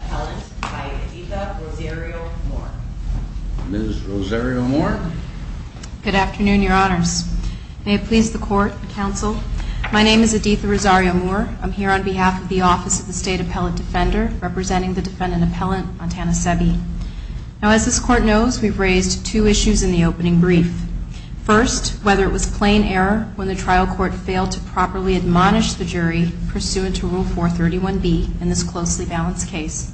Appellant by Editha Rosario-Moore Ms. Rosario-Moore Good afternoon, Your Honors. May it please the Court and Counsel, my name is Editha Rosario-Moore. I'm here on behalf of the Office of the State Appellant Defender, representing the defendant appellant Montana Sebby. Now as this Court knows, we've raised two issues in the opening brief. First, whether it was plain error when the trial court failed to properly admonish the jury pursuant to Rule 431B in this closely balanced case.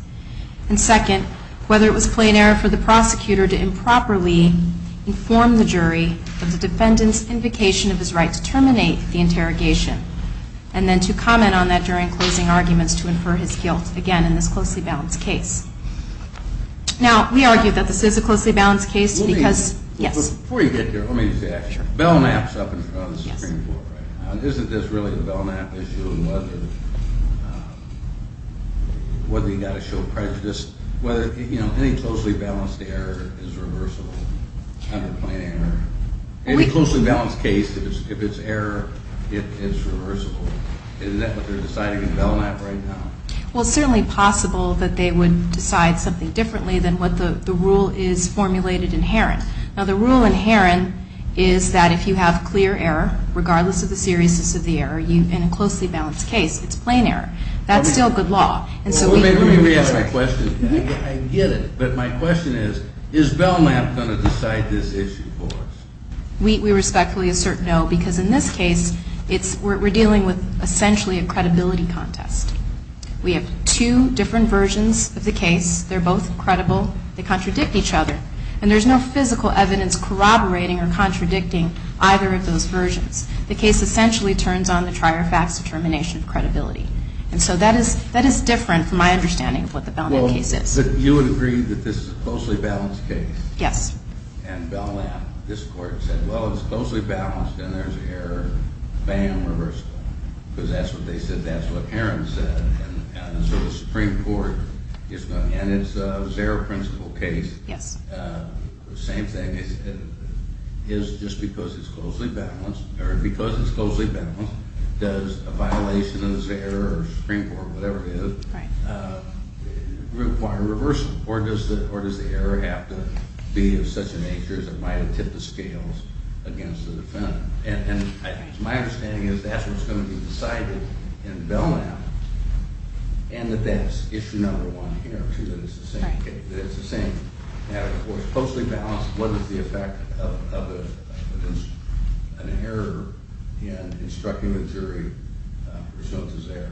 And second, whether it was plain error for the prosecutor to improperly inform the jury of the defendant's invocation of his right to terminate the interrogation, and then to comment on that during closing arguments to infer his guilt again in this closely balanced case. Now we argue that this is a closely balanced case because, yes. Before you get there, let me just ask you. Belknap's up in front of the Supreme Court right now. Isn't this really a Belknap issue in whether, whether you've got to show prejudice, whether, you know, any closely balanced error is reversible under plain error? In a closely balanced case, if it's error, it is reversible. Isn't that what they're deciding in Belknap right now? Well, it's certainly possible that they would decide something differently than what the rule is formulated in Heron. Now the rule in Heron is that if you have clear error, regardless of the seriousness of the error, in a closely balanced case, it's plain error. That's still good law. Let me ask my question again. I get it. But my question is, is Belknap going to decide this issue for us? We respectfully assert no, because in this case, it's, we're dealing with essentially a credibility contest. We have two different versions of the case. They're both credible. They contradict each other. And there's no physical evidence corroborating or contradicting either of those versions. The case essentially turns on the trier facts determination of credibility. And so that is, that is different from my understanding of what the Belknap case is. Well, but you would agree that this is a closely balanced case? Yes. And Belknap, this court, said, well, it's closely balanced and there's error. Bam, reversal. Because that's what they said. That's what Heron said. And so the Supreme Court is going, and it's a zero principle case. Yes. The same thing is just because it's closely balanced, or because it's closely balanced, does a violation of this error or Supreme Court, whatever it is, require reversal? Or does the error have to be of such a nature as it might have tipped the scales against the defendant? And my understanding is that's what's going to be decided in Belknap. And that that's issue number one here, too, that it's the same matter. If it's closely balanced, what is the effect of an error in instructing the jury results as error?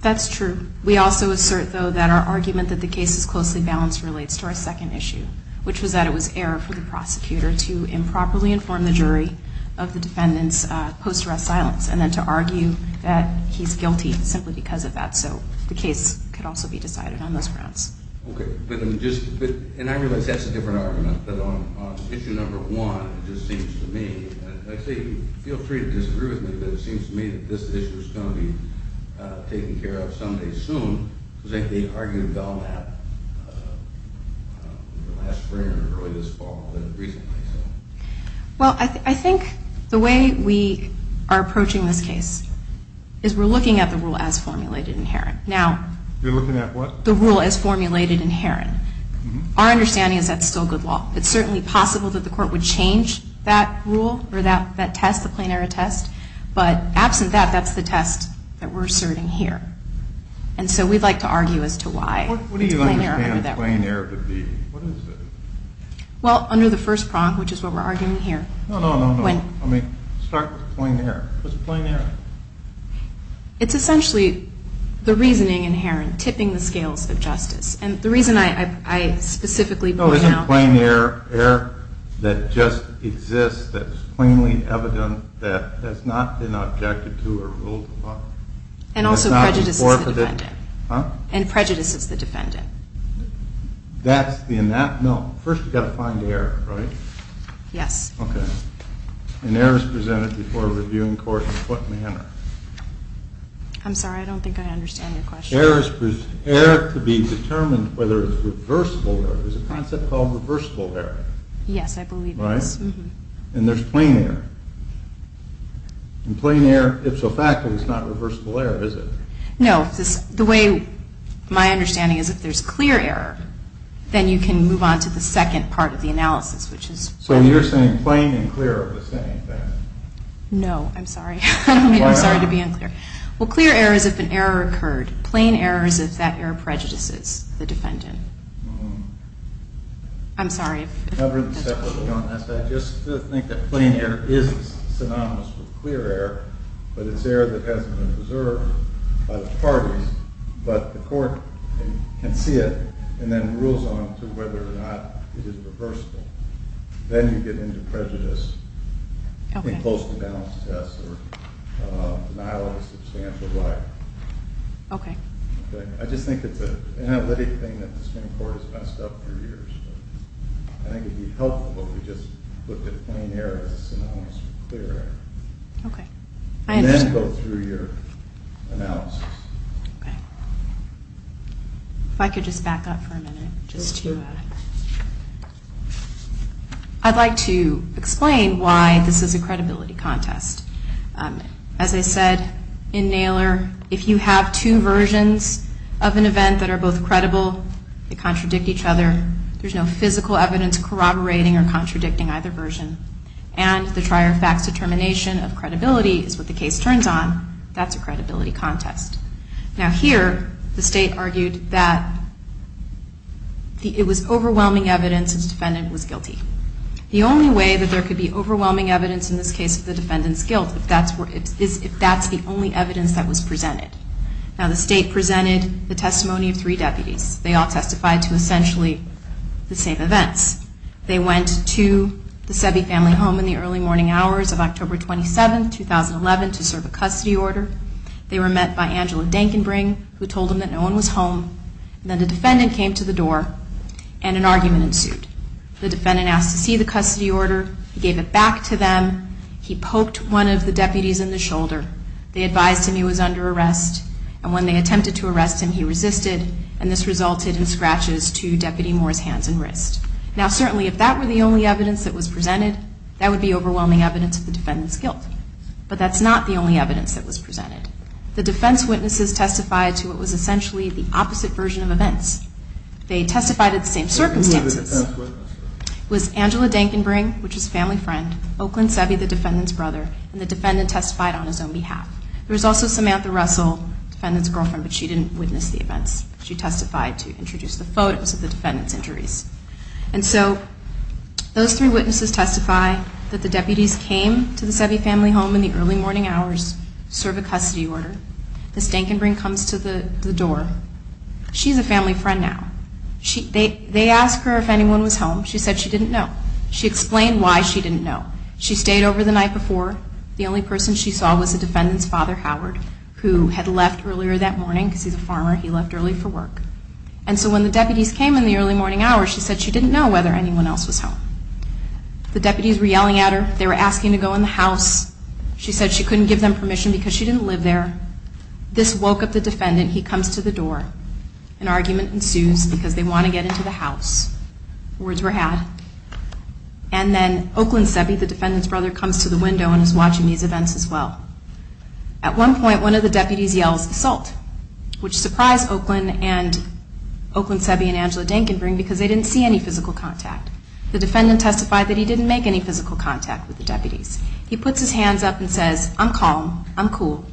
That's true. We also assert, though, that our argument that the case is closely balanced relates to our second issue, which was that it was error for the prosecutor to improperly inform the jury of the defendant's post-arrest silence and then to argue that he's guilty simply because of that. So the case could also be decided on those grounds. Okay. But I'm just – and I realize that's a different argument. But on issue number one, it just seems to me – and I say feel free to disagree with me, but it seems to me that this issue is going to be taken care of someday soon, because I think they argued Belknap in the last spring or early this fall, but recently, so. Well, I think the way we are approaching this case is we're looking at the rule as formulated inherent. Now – You're looking at what? The rule as formulated inherent. Our understanding is that's still good law. It's certainly possible that the Court would change that rule or that test, the plain error test. But absent that, that's the test that we're asserting here. And so we'd like to argue as to why it's plain error under that rule. What do you understand plain error to be? What is it? Well, under the first prong, which is what we're arguing here – No, no, no, no. When – I mean, start with plain error. What's plain error? It's essentially the reasoning inherent, tipping the scales of justice. And the reason I specifically point out – No, isn't plain error error that just exists, that's plainly evident, that has not been objected to or ruled upon? And also prejudices the defendant. Huh? And prejudices the defendant. That's the – no. First you've got to find error, right? Yes. Okay. An error is presented before a reviewing court in what manner? I'm sorry, I don't think I understand your question. Error to be determined whether it's reversible error. There's a concept called reversible error. Yes, I believe it is. Right? And there's plain error. In plain error, if so fact, it's not reversible error, is it? No. The way my understanding is, if there's clear error, then you can move on to the second part of the analysis, which is – So you're saying plain and clear are the same thing? No, I'm sorry. I'm sorry to be unclear. Well, clear error is if an error occurred. Plain error is if that error prejudices the defendant. I'm sorry if that's true. Just to think that plain error is synonymous with clear error, but it's error that hasn't been preserved by the parties, but the court can see it and then rules on to whether or not it is reversible. Then you get into prejudice in close to balance tests or denial of a substantial right. Okay. I just think it's an analytic thing that the Supreme Court has messed up for years. I think it would be helpful if we just looked at plain error as synonymous with clear error. Okay. And then go through your analysis. Okay. If I could just back up for a minute just to – I'd like to explain why this is a credibility contest. As I said in Naylor, if you have two versions of an event that are both credible, they contradict each other, there's no physical evidence corroborating or contradicting either version, and the try-or-fax determination of credibility is what the case turns on, that's a credibility contest. Now here the state argued that it was overwhelming evidence that the defendant was guilty. The only way that there could be overwhelming evidence in this case of the defendant's guilt is if that's the only evidence that was presented. Now the state presented the testimony of three deputies. They all testified to essentially the same events. They went to the Sebi family home in the early morning hours of October 27, 2011, to serve a custody order. They were met by Angela Denkenbring, who told them that no one was home. Then the defendant came to the door and an argument ensued. The defendant asked to see the custody order. He gave it back to them. He poked one of the deputies in the shoulder. They advised him he was under arrest, and when they attempted to arrest him, he resisted, and this resulted in scratches to Deputy Moore's hands and wrists. Now certainly if that were the only evidence that was presented, that would be overwhelming evidence of the defendant's guilt. But that's not the only evidence that was presented. The defense witnesses testified to what was essentially the opposite version of events. They testified at the same circumstances. It was Angela Denkenbring, which was a family friend, Oakland Sebi, the defendant's brother, and the defendant testified on his own behalf. There was also Samantha Russell, the defendant's girlfriend, but she didn't witness the events. She testified to introduce the photos of the defendant's injuries. And so those three witnesses testify that the deputies came to the Sebi family home in the early morning hours to serve a custody order. Ms. Denkenbring comes to the door. She's a family friend now. They asked her if anyone was home. She said she didn't know. She explained why she didn't know. She stayed over the night before. The only person she saw was the defendant's father, Howard, who had left earlier that morning because he's a farmer. He left early for work. And so when the deputies came in the early morning hours, she said she didn't know whether anyone else was home. The deputies were yelling at her. They were asking to go in the house. She said she couldn't give them permission because she didn't live there. This woke up the defendant. He comes to the door. An argument ensues because they want to get into the house. Words were had. And then Oakland Sebi, the defendant's brother, comes to the window and is watching these events as well. At one point, one of the deputies yells, Assault, which surprised Oakland Sebi and Angela Dinkinbury because they didn't see any physical contact. The defendant testified that he didn't make any physical contact with the deputies. He puts his hands up and says, I'm calm. I'm cool.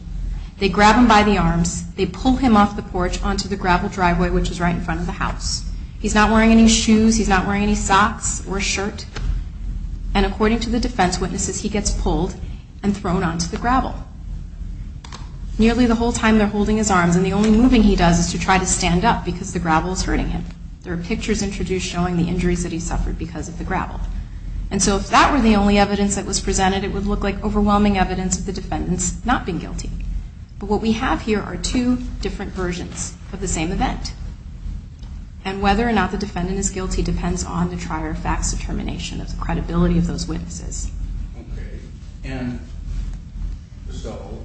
They grab him by the arms. They pull him off the porch onto the gravel driveway, which is right in front of the house. He's not wearing any shoes. He's not wearing any socks or a shirt. And according to the defense witnesses, he gets pulled and thrown onto the gravel. Nearly the whole time they're holding his arms, and the only moving he does is to try to stand up because the gravel is hurting him. There are pictures introduced showing the injuries that he suffered because of the gravel. And so if that were the only evidence that was presented, it would look like overwhelming evidence of the defendants not being guilty. But what we have here are two different versions of the same event. And whether or not the defendant is guilty depends on the trier of facts determination of the credibility of those witnesses. Okay. And so,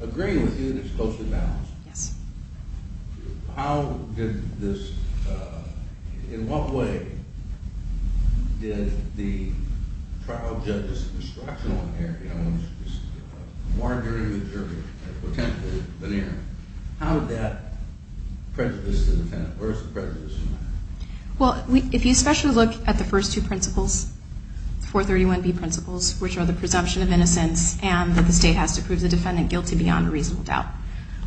agreeing with you that it's closely balanced. Yes. How did this – in what way did the trial judge's instruction on there, you know, margaring the jury as potentially an error, how did that prejudice the defendant? Where is the prejudice in that? Well, if you especially look at the first two principles, 431B principles, which are the presumption of innocence and that the state has to prove the defendant guilty beyond a reasonable doubt,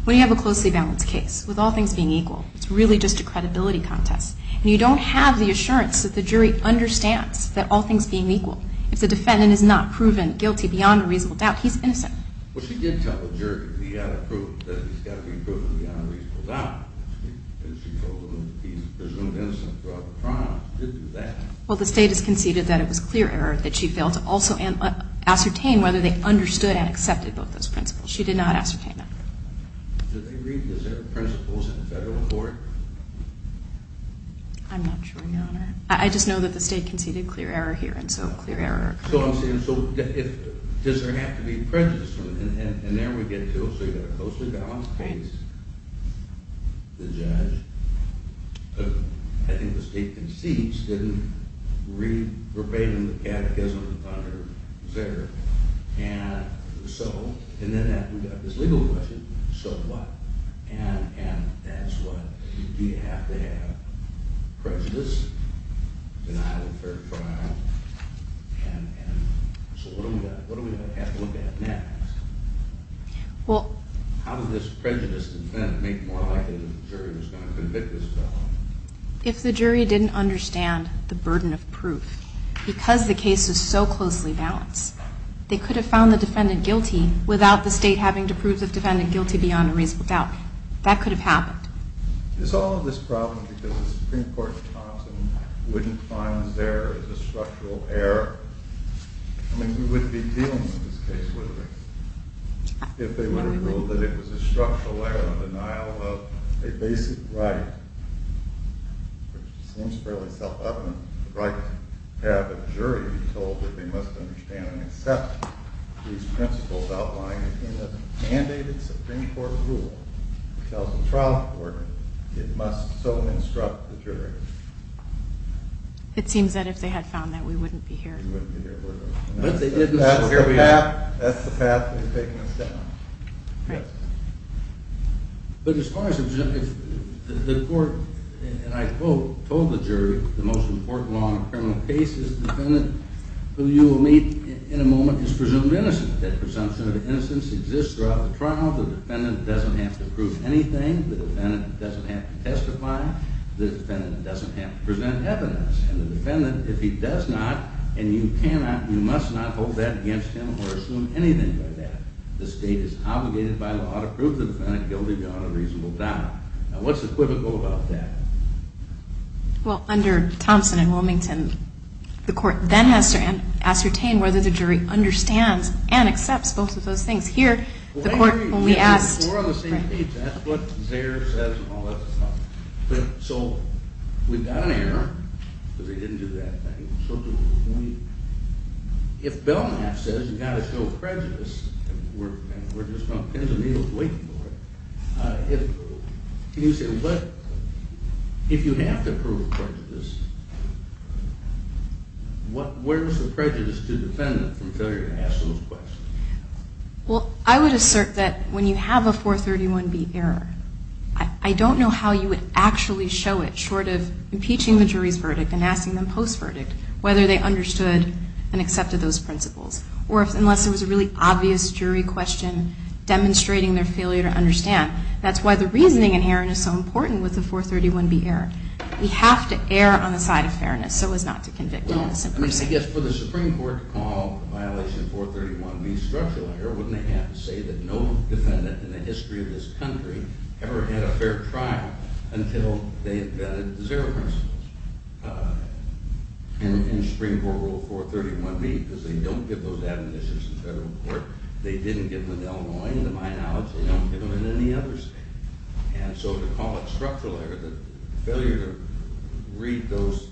when you have a closely balanced case with all things being equal, it's really just a credibility contest. And you don't have the assurance that the jury understands that all things being equal. If the defendant is not proven guilty beyond a reasonable doubt, he's innocent. Well, she did tell the jury that he had to prove that he's got to be proven beyond a reasonable doubt. And she told them that he's presumed innocent throughout the trial. She did do that. Well, the state has conceded that it was clear error that she failed to also ascertain whether they understood and accepted both those principles. She did not ascertain that. Did they read the principles in the federal court? I'm not sure, Your Honor. I just know that the state conceded clear error here, and so clear error. So I'm saying, so does there have to be prejudice? And there we get to it. So you've got a closely balanced case. The judge, I think the state concedes, didn't read verbatim the catechism under Zegar. And so, and then we've got this legal question, so what? And that's what, do you have to have prejudice, denial of fair trial, and so what do we have to look at next? How does this prejudice make more likely that the jury is going to convict this fellow? If the jury didn't understand the burden of proof, because the case is so closely balanced, they could have found the defendant guilty without the state having to prove the defendant guilty beyond a reasonable doubt. That could have happened. Is all of this a problem because the Supreme Court in Thompson wouldn't find Zegar as a structural error? I mean, we wouldn't be dealing with this case, would we, if they would have ruled that it was a structural error, a denial of a basic right, which seems fairly self-evident. The right to have a jury be told that they must understand and accept these principles outlined in a mandated Supreme Court rule that tells the trial court it must so instruct the jury. It seems that if they had found that, we wouldn't be here. That's the path they've taken us down. But as far as the court, and I quote, told the jury, the most important law in a criminal case is the defendant who you will meet in a moment is presumed innocent. That presumption of innocence exists throughout the trial. The defendant doesn't have to prove anything. The defendant doesn't have to testify. The defendant doesn't have to present evidence. And the defendant, if he does not, and you cannot, you must not hold that against him or assume anything by that. The state is obligated by law to prove the defendant guilty beyond a reasonable doubt. Now, what's equivocal about that? Well, under Thompson and Wilmington, the court then has to ascertain whether the jury understands and accepts both of those things. Here, the court only asked. We're on the same page. That's what Zayer says and all that stuff. So we've got an error because we didn't do that thing. So if Belknap says you've got to show prejudice, and we're just going to pin the needle and wait for it, if you have to prove prejudice, where is the prejudice to the defendant from failure to ask those questions? Well, I would assert that when you have a 431B error, I don't know how you would actually show it short of impeaching the jury's verdict and asking them post-verdict whether they understood and accepted those principles. Or unless it was a really obvious jury question demonstrating their failure to understand. That's why the reasoning inherent is so important with the 431B error. We have to err on the side of fairness so as not to convict an innocent person. Well, I guess for the Supreme Court to call the violation of 431B structural error, wouldn't they have to say that no defendant in the history of this country ever had a fair trial until they had vetted the zero principles in Supreme Court Rule 431B because they don't give those admonitions in federal court, they didn't give them in Illinois, to my knowledge, they don't give them in any other state. And so to call it structural error, the failure to read those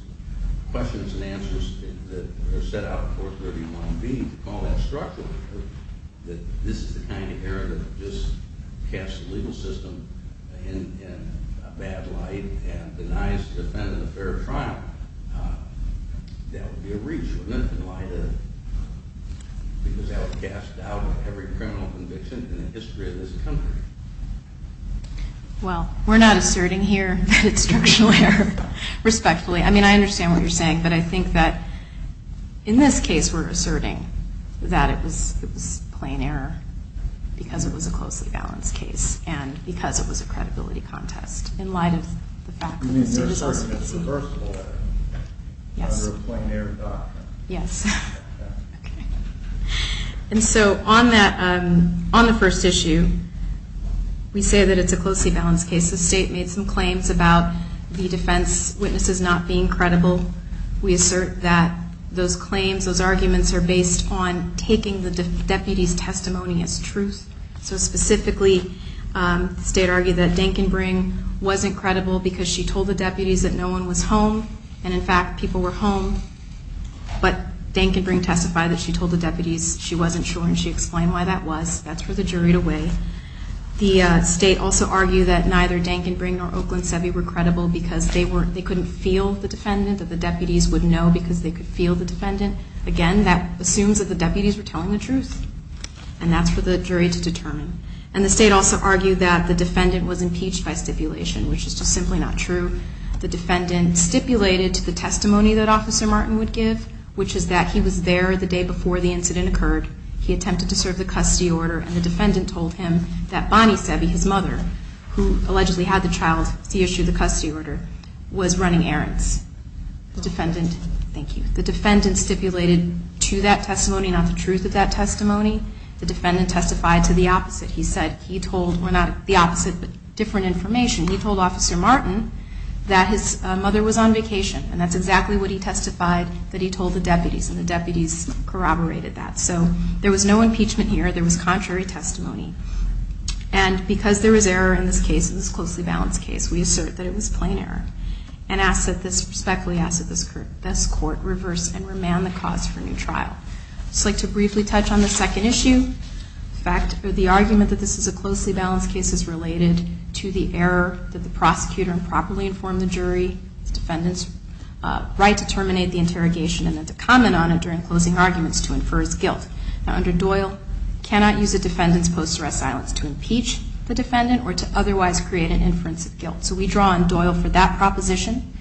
questions and answers that are set out in 431B, to call that structural error, that this is the kind of error that just casts the legal system in a bad light and denies the defendant a fair trial, that would be a breach of limit in light of, because that would cast doubt on every criminal conviction in the history of this country. Well, we're not asserting here that it's structural error, respectfully. I mean, I understand what you're saying, but I think that in this case we're asserting that it was plain error because it was a closely balanced case and because it was a credibility contest in light of the fact that the suit was also conceived. And it's reversible under a plain error doctrine. Yes. And so on the first issue, we say that it's a closely balanced case. The state made some claims about the defense witnesses not being credible. We assert that those claims, those arguments, are based on taking the deputy's testimony as truth. So specifically, the state argued that Denkenbring wasn't credible because she told the deputies that no one was home and, in fact, people were home, but Denkenbring testified that she told the deputies she wasn't sure and she explained why that was. That's for the jury to weigh. The state also argued that neither Denkenbring nor Oakland Seve were credible because they couldn't feel the defendant, that the deputies would know because they could feel the defendant. Again, that assumes that the deputies were telling the truth, and that's for the jury to determine. And the state also argued that the defendant was impeached by stipulation, which is just simply not true. The defendant stipulated to the testimony that Officer Martin would give, which is that he was there the day before the incident occurred, he attempted to serve the custody order, and the defendant told him that Bonnie Seve, his mother, who allegedly had the child to issue the custody order, was running errands. The defendant stipulated to that testimony, not the truth of that testimony. The defendant testified to the opposite. He said he told, well, not the opposite, but different information. He told Officer Martin that his mother was on vacation, and that's exactly what he testified that he told the deputies, and the deputies corroborated that. So there was no impeachment here. There was contrary testimony. And because there was error in this case, this closely balanced case, we assert that it was plain error, and respectfully ask that this court reverse and remand the cause for a new trial. I'd just like to briefly touch on the second issue, the argument that this is a closely balanced case is related to the error that the prosecutor improperly informed the jury, the defendant's right to terminate the interrogation and then to comment on it during closing arguments to infer his guilt. Now, under Doyle, cannot use a defendant's post-arrest silence to impeach the defendant or to otherwise create an inference of guilt. So we draw on Doyle for that proposition.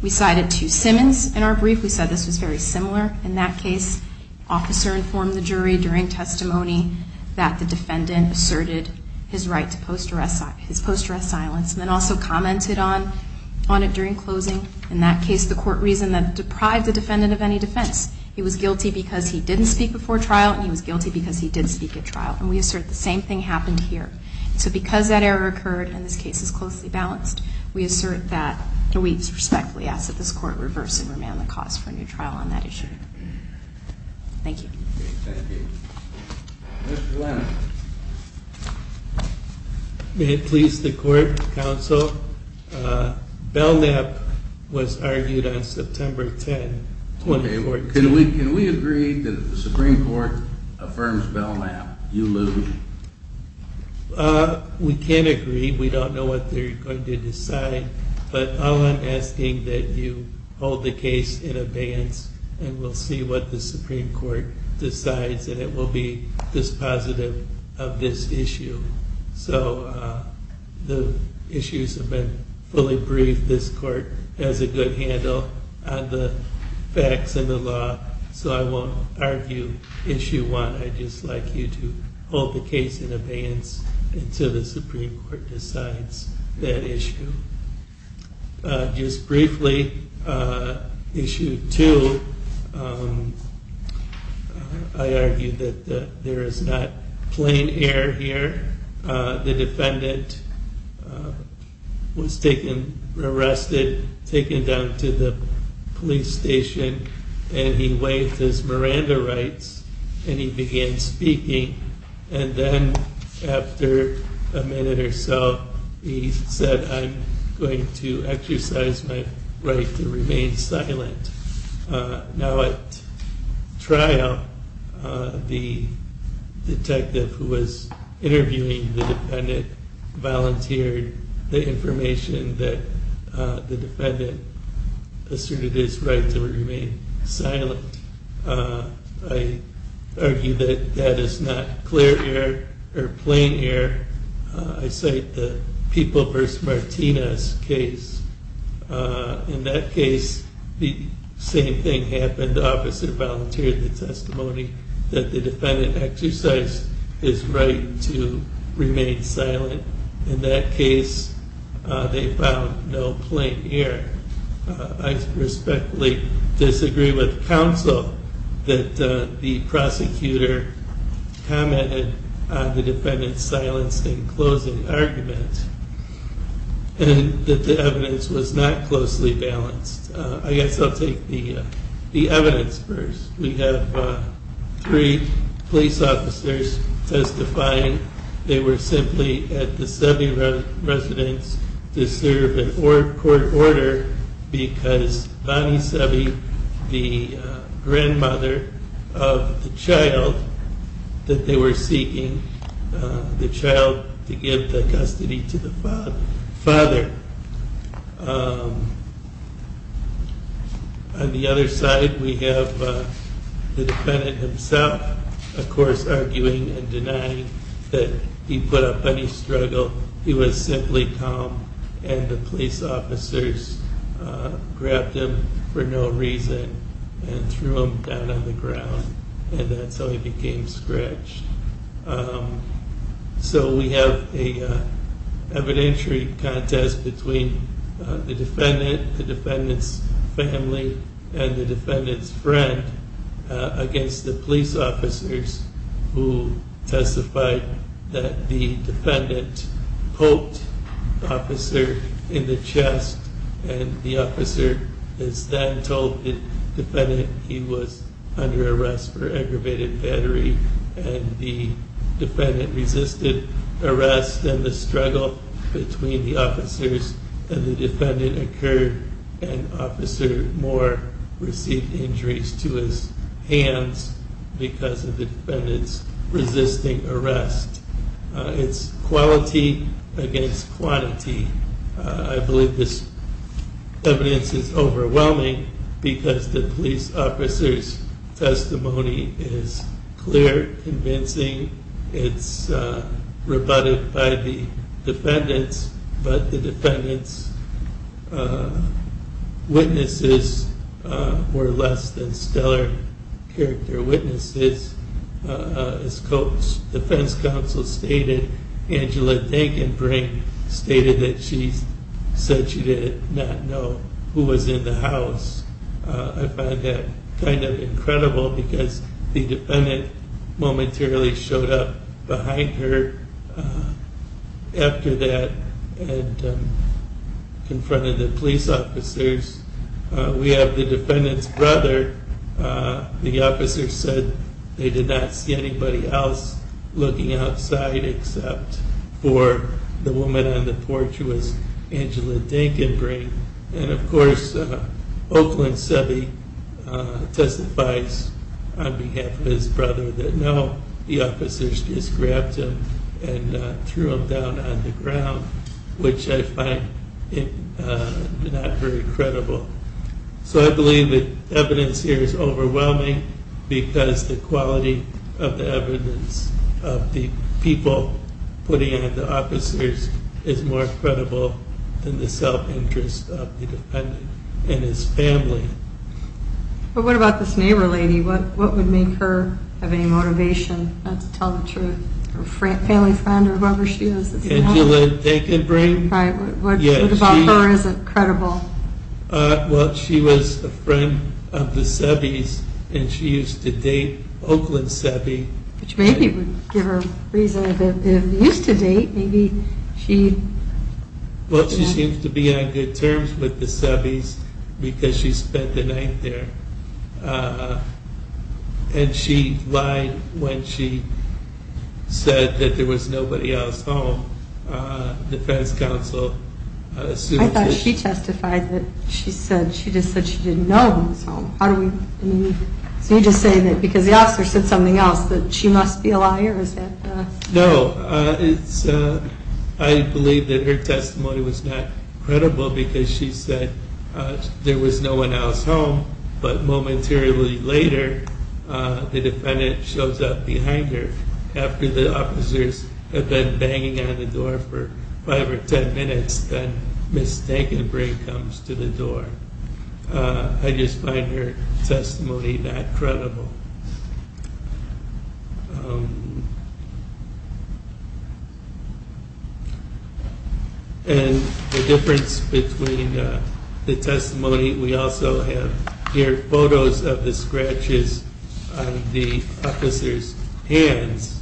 We cite it to Simmons. In our brief, we said this was very similar. In that case, officer informed the jury during testimony that the defendant asserted his right to post-arrest silence and then also commented on it during closing. In that case, the court reasoned that it deprived the defendant of any defense. He was guilty because he didn't speak before trial, and he was guilty because he did speak at trial. And we assert the same thing happened here. So because that error occurred and this case is closely balanced, we assert that, and we respectfully ask that this court reverse and remand the cause for a new trial on that issue. Thank you. Thank you. Mr. Lennon. May it please the Court, Counsel, Belknap was argued on September 10, 2014. Can we agree that the Supreme Court affirms Belknap, you lose? We can't agree. We don't know what they're going to decide. But all I'm asking that you hold the case in abeyance and we'll see what the Supreme Court decides, and it will be dispositive of this issue. So the issues have been fully briefed. This court has a good handle on the facts and the law, so I won't argue issue one. I'd just like you to hold the case in abeyance until the Supreme Court decides that issue. Just briefly, issue two, I argue that there is not plain air here. The defendant was arrested, taken down to the police station, and he waived his Miranda rights, and he began speaking. And then after a minute or so, he said, I'm going to exercise my right to remain silent. Now at trial, the detective who was interviewing the defendant volunteered the information that the defendant asserted his right to remain silent. I argue that that is not clear air or plain air. I cite the People v. Martinez case. In that case, the same thing happened. The officer volunteered the testimony that the defendant exercised his right to remain silent. In that case, they found no plain air. I respectfully disagree with counsel that the prosecutor commented on the defendant's silence in closing argument and that the evidence was not closely balanced. I guess I'll take the evidence first. We have three police officers testifying. They were simply at the Seve Residence to serve a court order because Bonnie Seve, the grandmother of the child that they were seeking, the child to give the custody to the father. On the other side, we have the defendant himself, of course, arguing and denying that he put up any struggle. He was simply calm, and the police officers grabbed him for no reason and threw him down on the ground, and that's how he became scratched. So we have an evidentiary contest between the defendant, the defendant's family, and the defendant's friend against the police officers who testified that the defendant poked the officer in the chest, and the officer is then told that the defendant, he was under arrest for aggravated battery, and the defendant resisted arrest, and the struggle between the officers and the defendant occurred, and Officer Moore received injuries to his hands because of the defendant's resisting arrest. It's quality against quantity. I believe this evidence is overwhelming because the police officer's testimony is clear, convincing, it's rebutted by the defendants, but the defendants' witnesses were less than stellar character witnesses. As the defense counsel stated, Angela Dinkinbrink stated that she said she did not know who was in the house. I find that kind of incredible because the defendant momentarily showed up behind her after that and confronted the police officers. We have the defendant's brother. The officer said they did not see anybody else looking outside except for the woman on the porch who was Angela Dinkinbrink, and, of course, Oakland Seve testifies on behalf of his brother that, no, the officers just grabbed him and threw him down on the ground, which I find not very credible. So I believe that the evidence here is overwhelming because the quality of the evidence of the people putting on the officers is more credible than the self-interest of the defendant and his family. But what about this neighbor lady? What would make her have any motivation not to tell the truth, her family friend or whoever she is? Angela Dinkinbrink. What about her isn't credible? Well, she was a friend of the Seve's, and she used to date Oakland Seve. Which maybe would give her a reason that if they used to date, maybe she... Well, she seems to be on good terms with the Seve's because she spent the night there. And she lied when she said that there was nobody else home. The defense counsel assumed that... I thought she testified that she just said she didn't know who was home. How do we... So you're just saying that because the officer said something else that she must be a liar, is that... No. I believe that her testimony was not credible because she said there was no one else home. But momentarily later, the defendant shows up behind her after the officers have been banging on the door for five or ten minutes then Ms. Dinkinbrink comes to the door. I just find her testimony not credible. And the difference between the testimony... We also have here photos of the scratches on the officers' hands.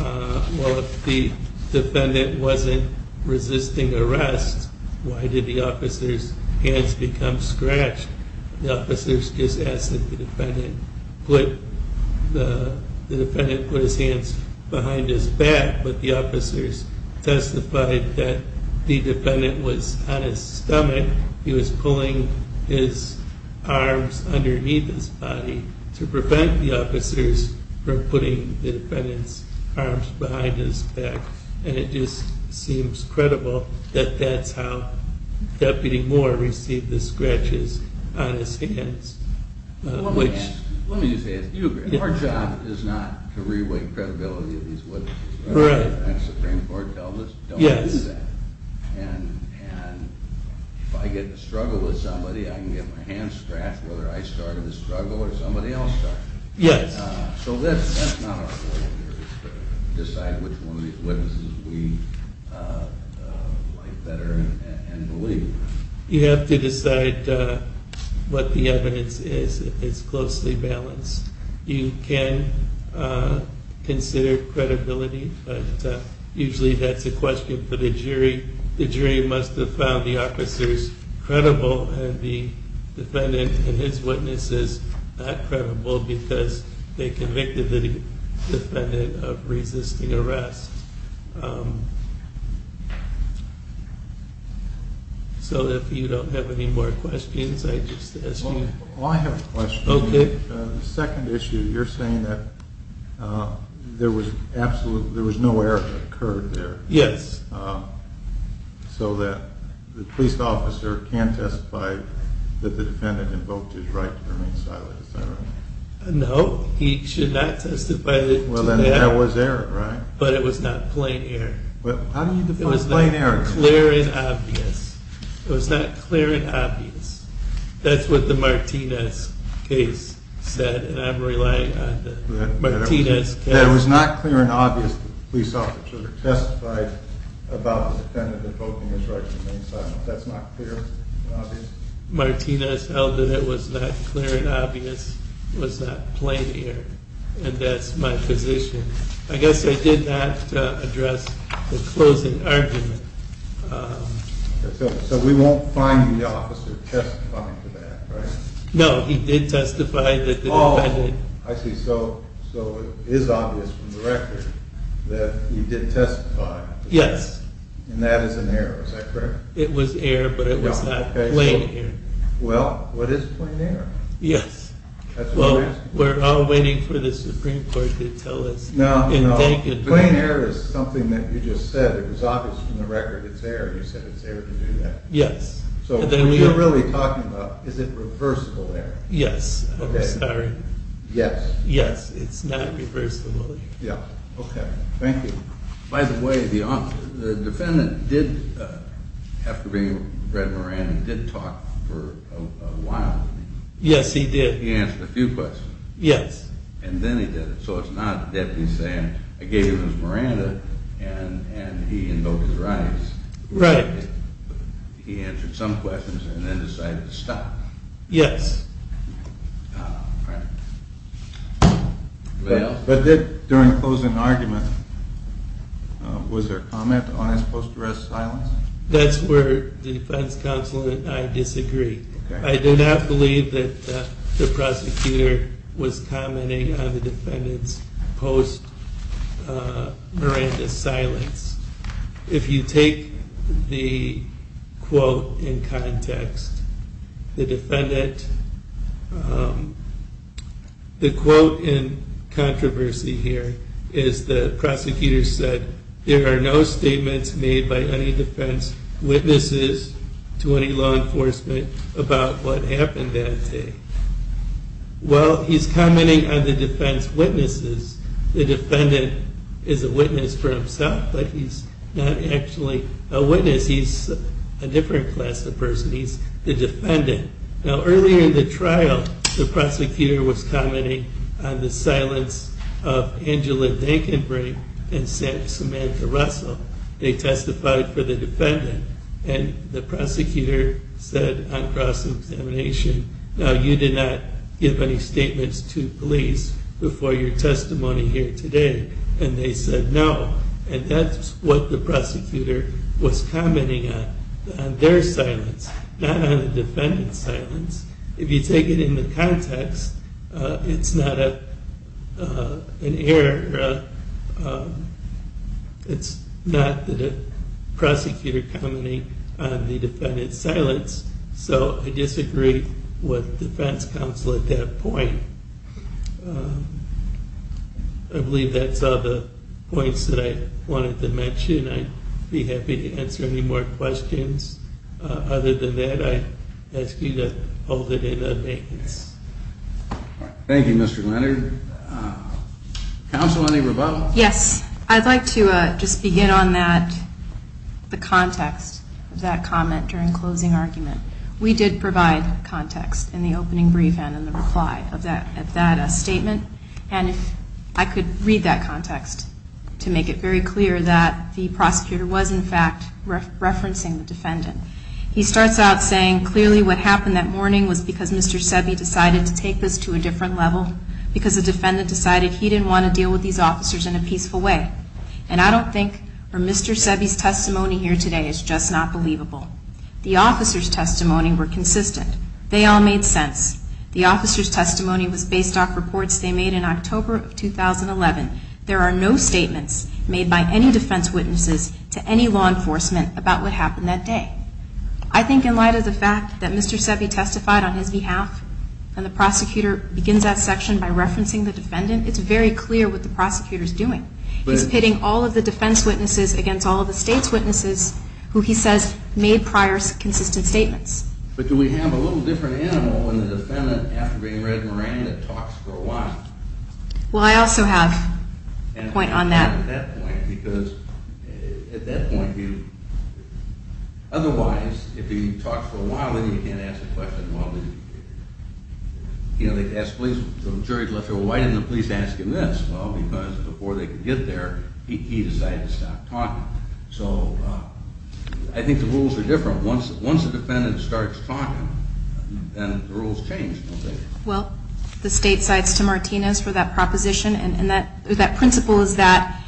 Well, if the defendant wasn't resisting arrest, why did the officers' hands become scratched? The officers just asked that the defendant put his hands behind his back, but the officers testified that the defendant was on his stomach. He was pulling his arms underneath his body to prevent the officers from putting the defendant's arms behind his back. And it just seems credible that that's how Deputy Moore received the scratches on his hands. Let me just ask you. Our job is not to re-weight credibility of these witnesses. The Supreme Court tells us don't do that. And if I get in a struggle with somebody, I can get my hands scratched whether I started the struggle or somebody else started it. So that's not our role here, to decide which one of these witnesses we like better and believe. You have to decide what the evidence is if it's closely balanced. You can consider credibility, but usually that's a question for the jury. The jury must have found the officers credible, and the defendant and his witnesses not credible because they convicted the defendant of resisting arrest. So if you don't have any more questions, I just ask you. Well, I have a question. Okay. The second issue, you're saying that there was no error occurred there. Yes. So that the police officer can testify that the defendant invoked his right to remain silent, is that right? No, he should not testify to that. Well, then there was error, right? But it was not plain error. How do you define plain error? It was not clear and obvious. It was not clear and obvious. That's what the Martinez case said, and I'm relying on the Martinez case. That it was not clear and obvious that the police officer testified about the defendant invoking his right to remain silent. That's not clear and obvious? Martinez held that it was not clear and obvious. It was not plain error, and that's my position. I guess I did not address the closing argument. So we won't find the officer testifying to that, right? No, he did testify that the defendant. Oh, I see. So it is obvious from the record that he did testify. Yes. And that is an error. Is that correct? It was error, but it was not plain error. Well, what is plain error? Yes. We're all waiting for the Supreme Court to tell us. No, no. Plain error is something that you just said. It was obvious from the record. It's error. You said it's error to do that. Yes. So what you're really talking about, is it reversible error? Yes. I'm sorry. Yes. Yes, it's not reversible. Yeah. Okay. Thank you. By the way, the defendant did, after being with Brett Moran, did talk for a while. Yes, he did. He answered a few questions. Yes. And then he did it. So it's not that he's saying, I gave you Ms. Miranda, and he invoked his rights. Right. He answered some questions and then decided to stop. Yes. All right. Well, but did, during the closing argument, was there comment on his post-arrest silence? That's where the defense counsel and I disagree. Okay. I do not believe that the prosecutor was commenting on the defendant's post-Miranda silence. If you take the quote in context, the defendant, the quote in controversy here is the prosecutor said, there are no statements made by any defense witnesses to any law enforcement about what happened that day. Well, he's commenting on the defense witnesses. The defendant is a witness for himself, but he's not actually a witness. He's a different class of person. He's the defendant. Now, earlier in the trial, the prosecutor was commenting on the silence of Angela Dinkinbrink and Samantha Russell. They testified for the defendant. And the prosecutor said on cross-examination, now you did not give any statements to police before your testimony here today. And they said no. And that's what the prosecutor was commenting on, on their silence, not on the defendant's silence. If you take it in the context, it's not an error. It's not the prosecutor commenting on the defendant's silence. So I disagree with defense counsel at that point. I believe that's all the points that I wanted to mention. I'd be happy to answer any more questions. Other than that, I ask you to hold it in the maintenance. Thank you, Mr. Leonard. Counsel, any rebuttals? Yes. I'd like to just begin on that, the context of that comment during closing argument. We did provide context in the opening brief and in the reply of that statement. And I could read that context to make it very clear that the prosecutor was, in fact, referencing the defendant. He starts out saying, clearly what happened that morning was because Mr. Sebi's testimony here today is just not believable. The officer's testimony were consistent. They all made sense. The officer's testimony was based off reports they made in October of 2011. There are no statements made by any defense witnesses to any law enforcement about what happened that day. I think in light of the fact that Mr. Sebi testified on his behalf, and the prosecutor begins that section by referencing the defendant's testimony, it's very clear what the prosecutor's doing. He's pitting all of the defense witnesses against all of the state's witnesses who he says made prior consistent statements. But do we have a little different animal in the defendant after being read Moran that talks for a while? Well, I also have a point on that. At that point, because at that point, he decided to stop talking. So I think the rules are different. Once the defendant starts talking, then the rules change. Well, the state cites to Martinez for that proposition, and that principle is that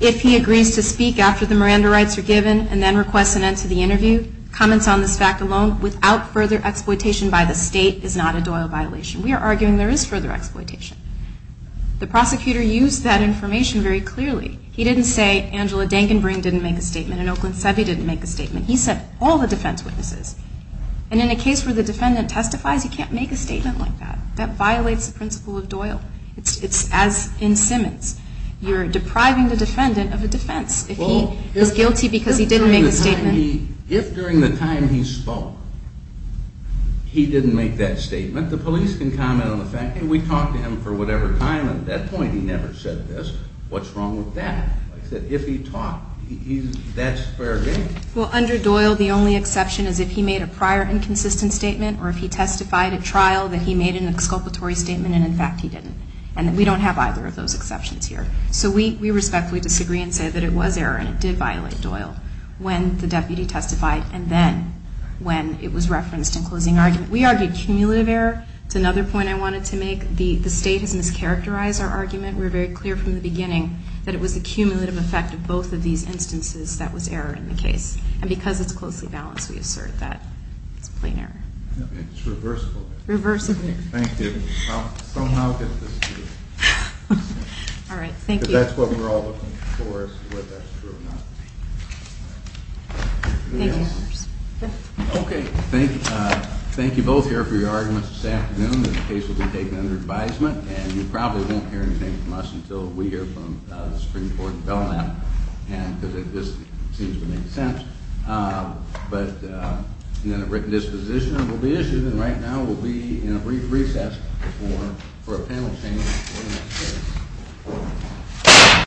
if he agrees to speak after the Miranda rights are given, and then requests an end to the interview, comments on this fact alone, without further exploitation by law enforcement, by the state is not a Doyle violation. We are arguing there is further exploitation. The prosecutor used that information very clearly. He didn't say Angela Dankenbring didn't make a statement, and Oakland Sebi didn't make a statement. He sent all the defense witnesses. And in a case where the defendant testifies, you can't make a statement like that. That violates the principle of Doyle. It's as in Simmons. You're depriving the defendant of a defense if he is guilty because he didn't make the statement. If during the time he spoke he didn't make that statement, the police can comment on the fact that we talked to him for whatever time, and at that point he never said this. What's wrong with that? If he talked, that's fair game. Well, under Doyle, the only exception is if he made a prior inconsistent statement or if he testified at trial that he made an exculpatory statement, and, in fact, he didn't. And we don't have either of those exceptions here. So we respectfully disagree and say that it was error and it did violate the principle of Doyle when the deputy testified, and then when it was referenced in closing argument. We argued cumulative error. That's another point I wanted to make. The state has mischaracterized our argument. We were very clear from the beginning that it was the cumulative effect of both of these instances that was error in the case. And because it's closely balanced, we assert that it's plain error. It's reversible. Thank you. I'll somehow get this through. All right. Thank you. That's what we're all looking for is whether that's true or not. Thank you. Okay. Thank you both here for your arguments this afternoon. This case will be taken under advisement, and you probably won't hear anything from us until we hear from the Supreme Court and Belknap, because it just seems to make sense. But then a written disposition will be issued, and right now we'll be in a brief recess for a panel change. Thank you.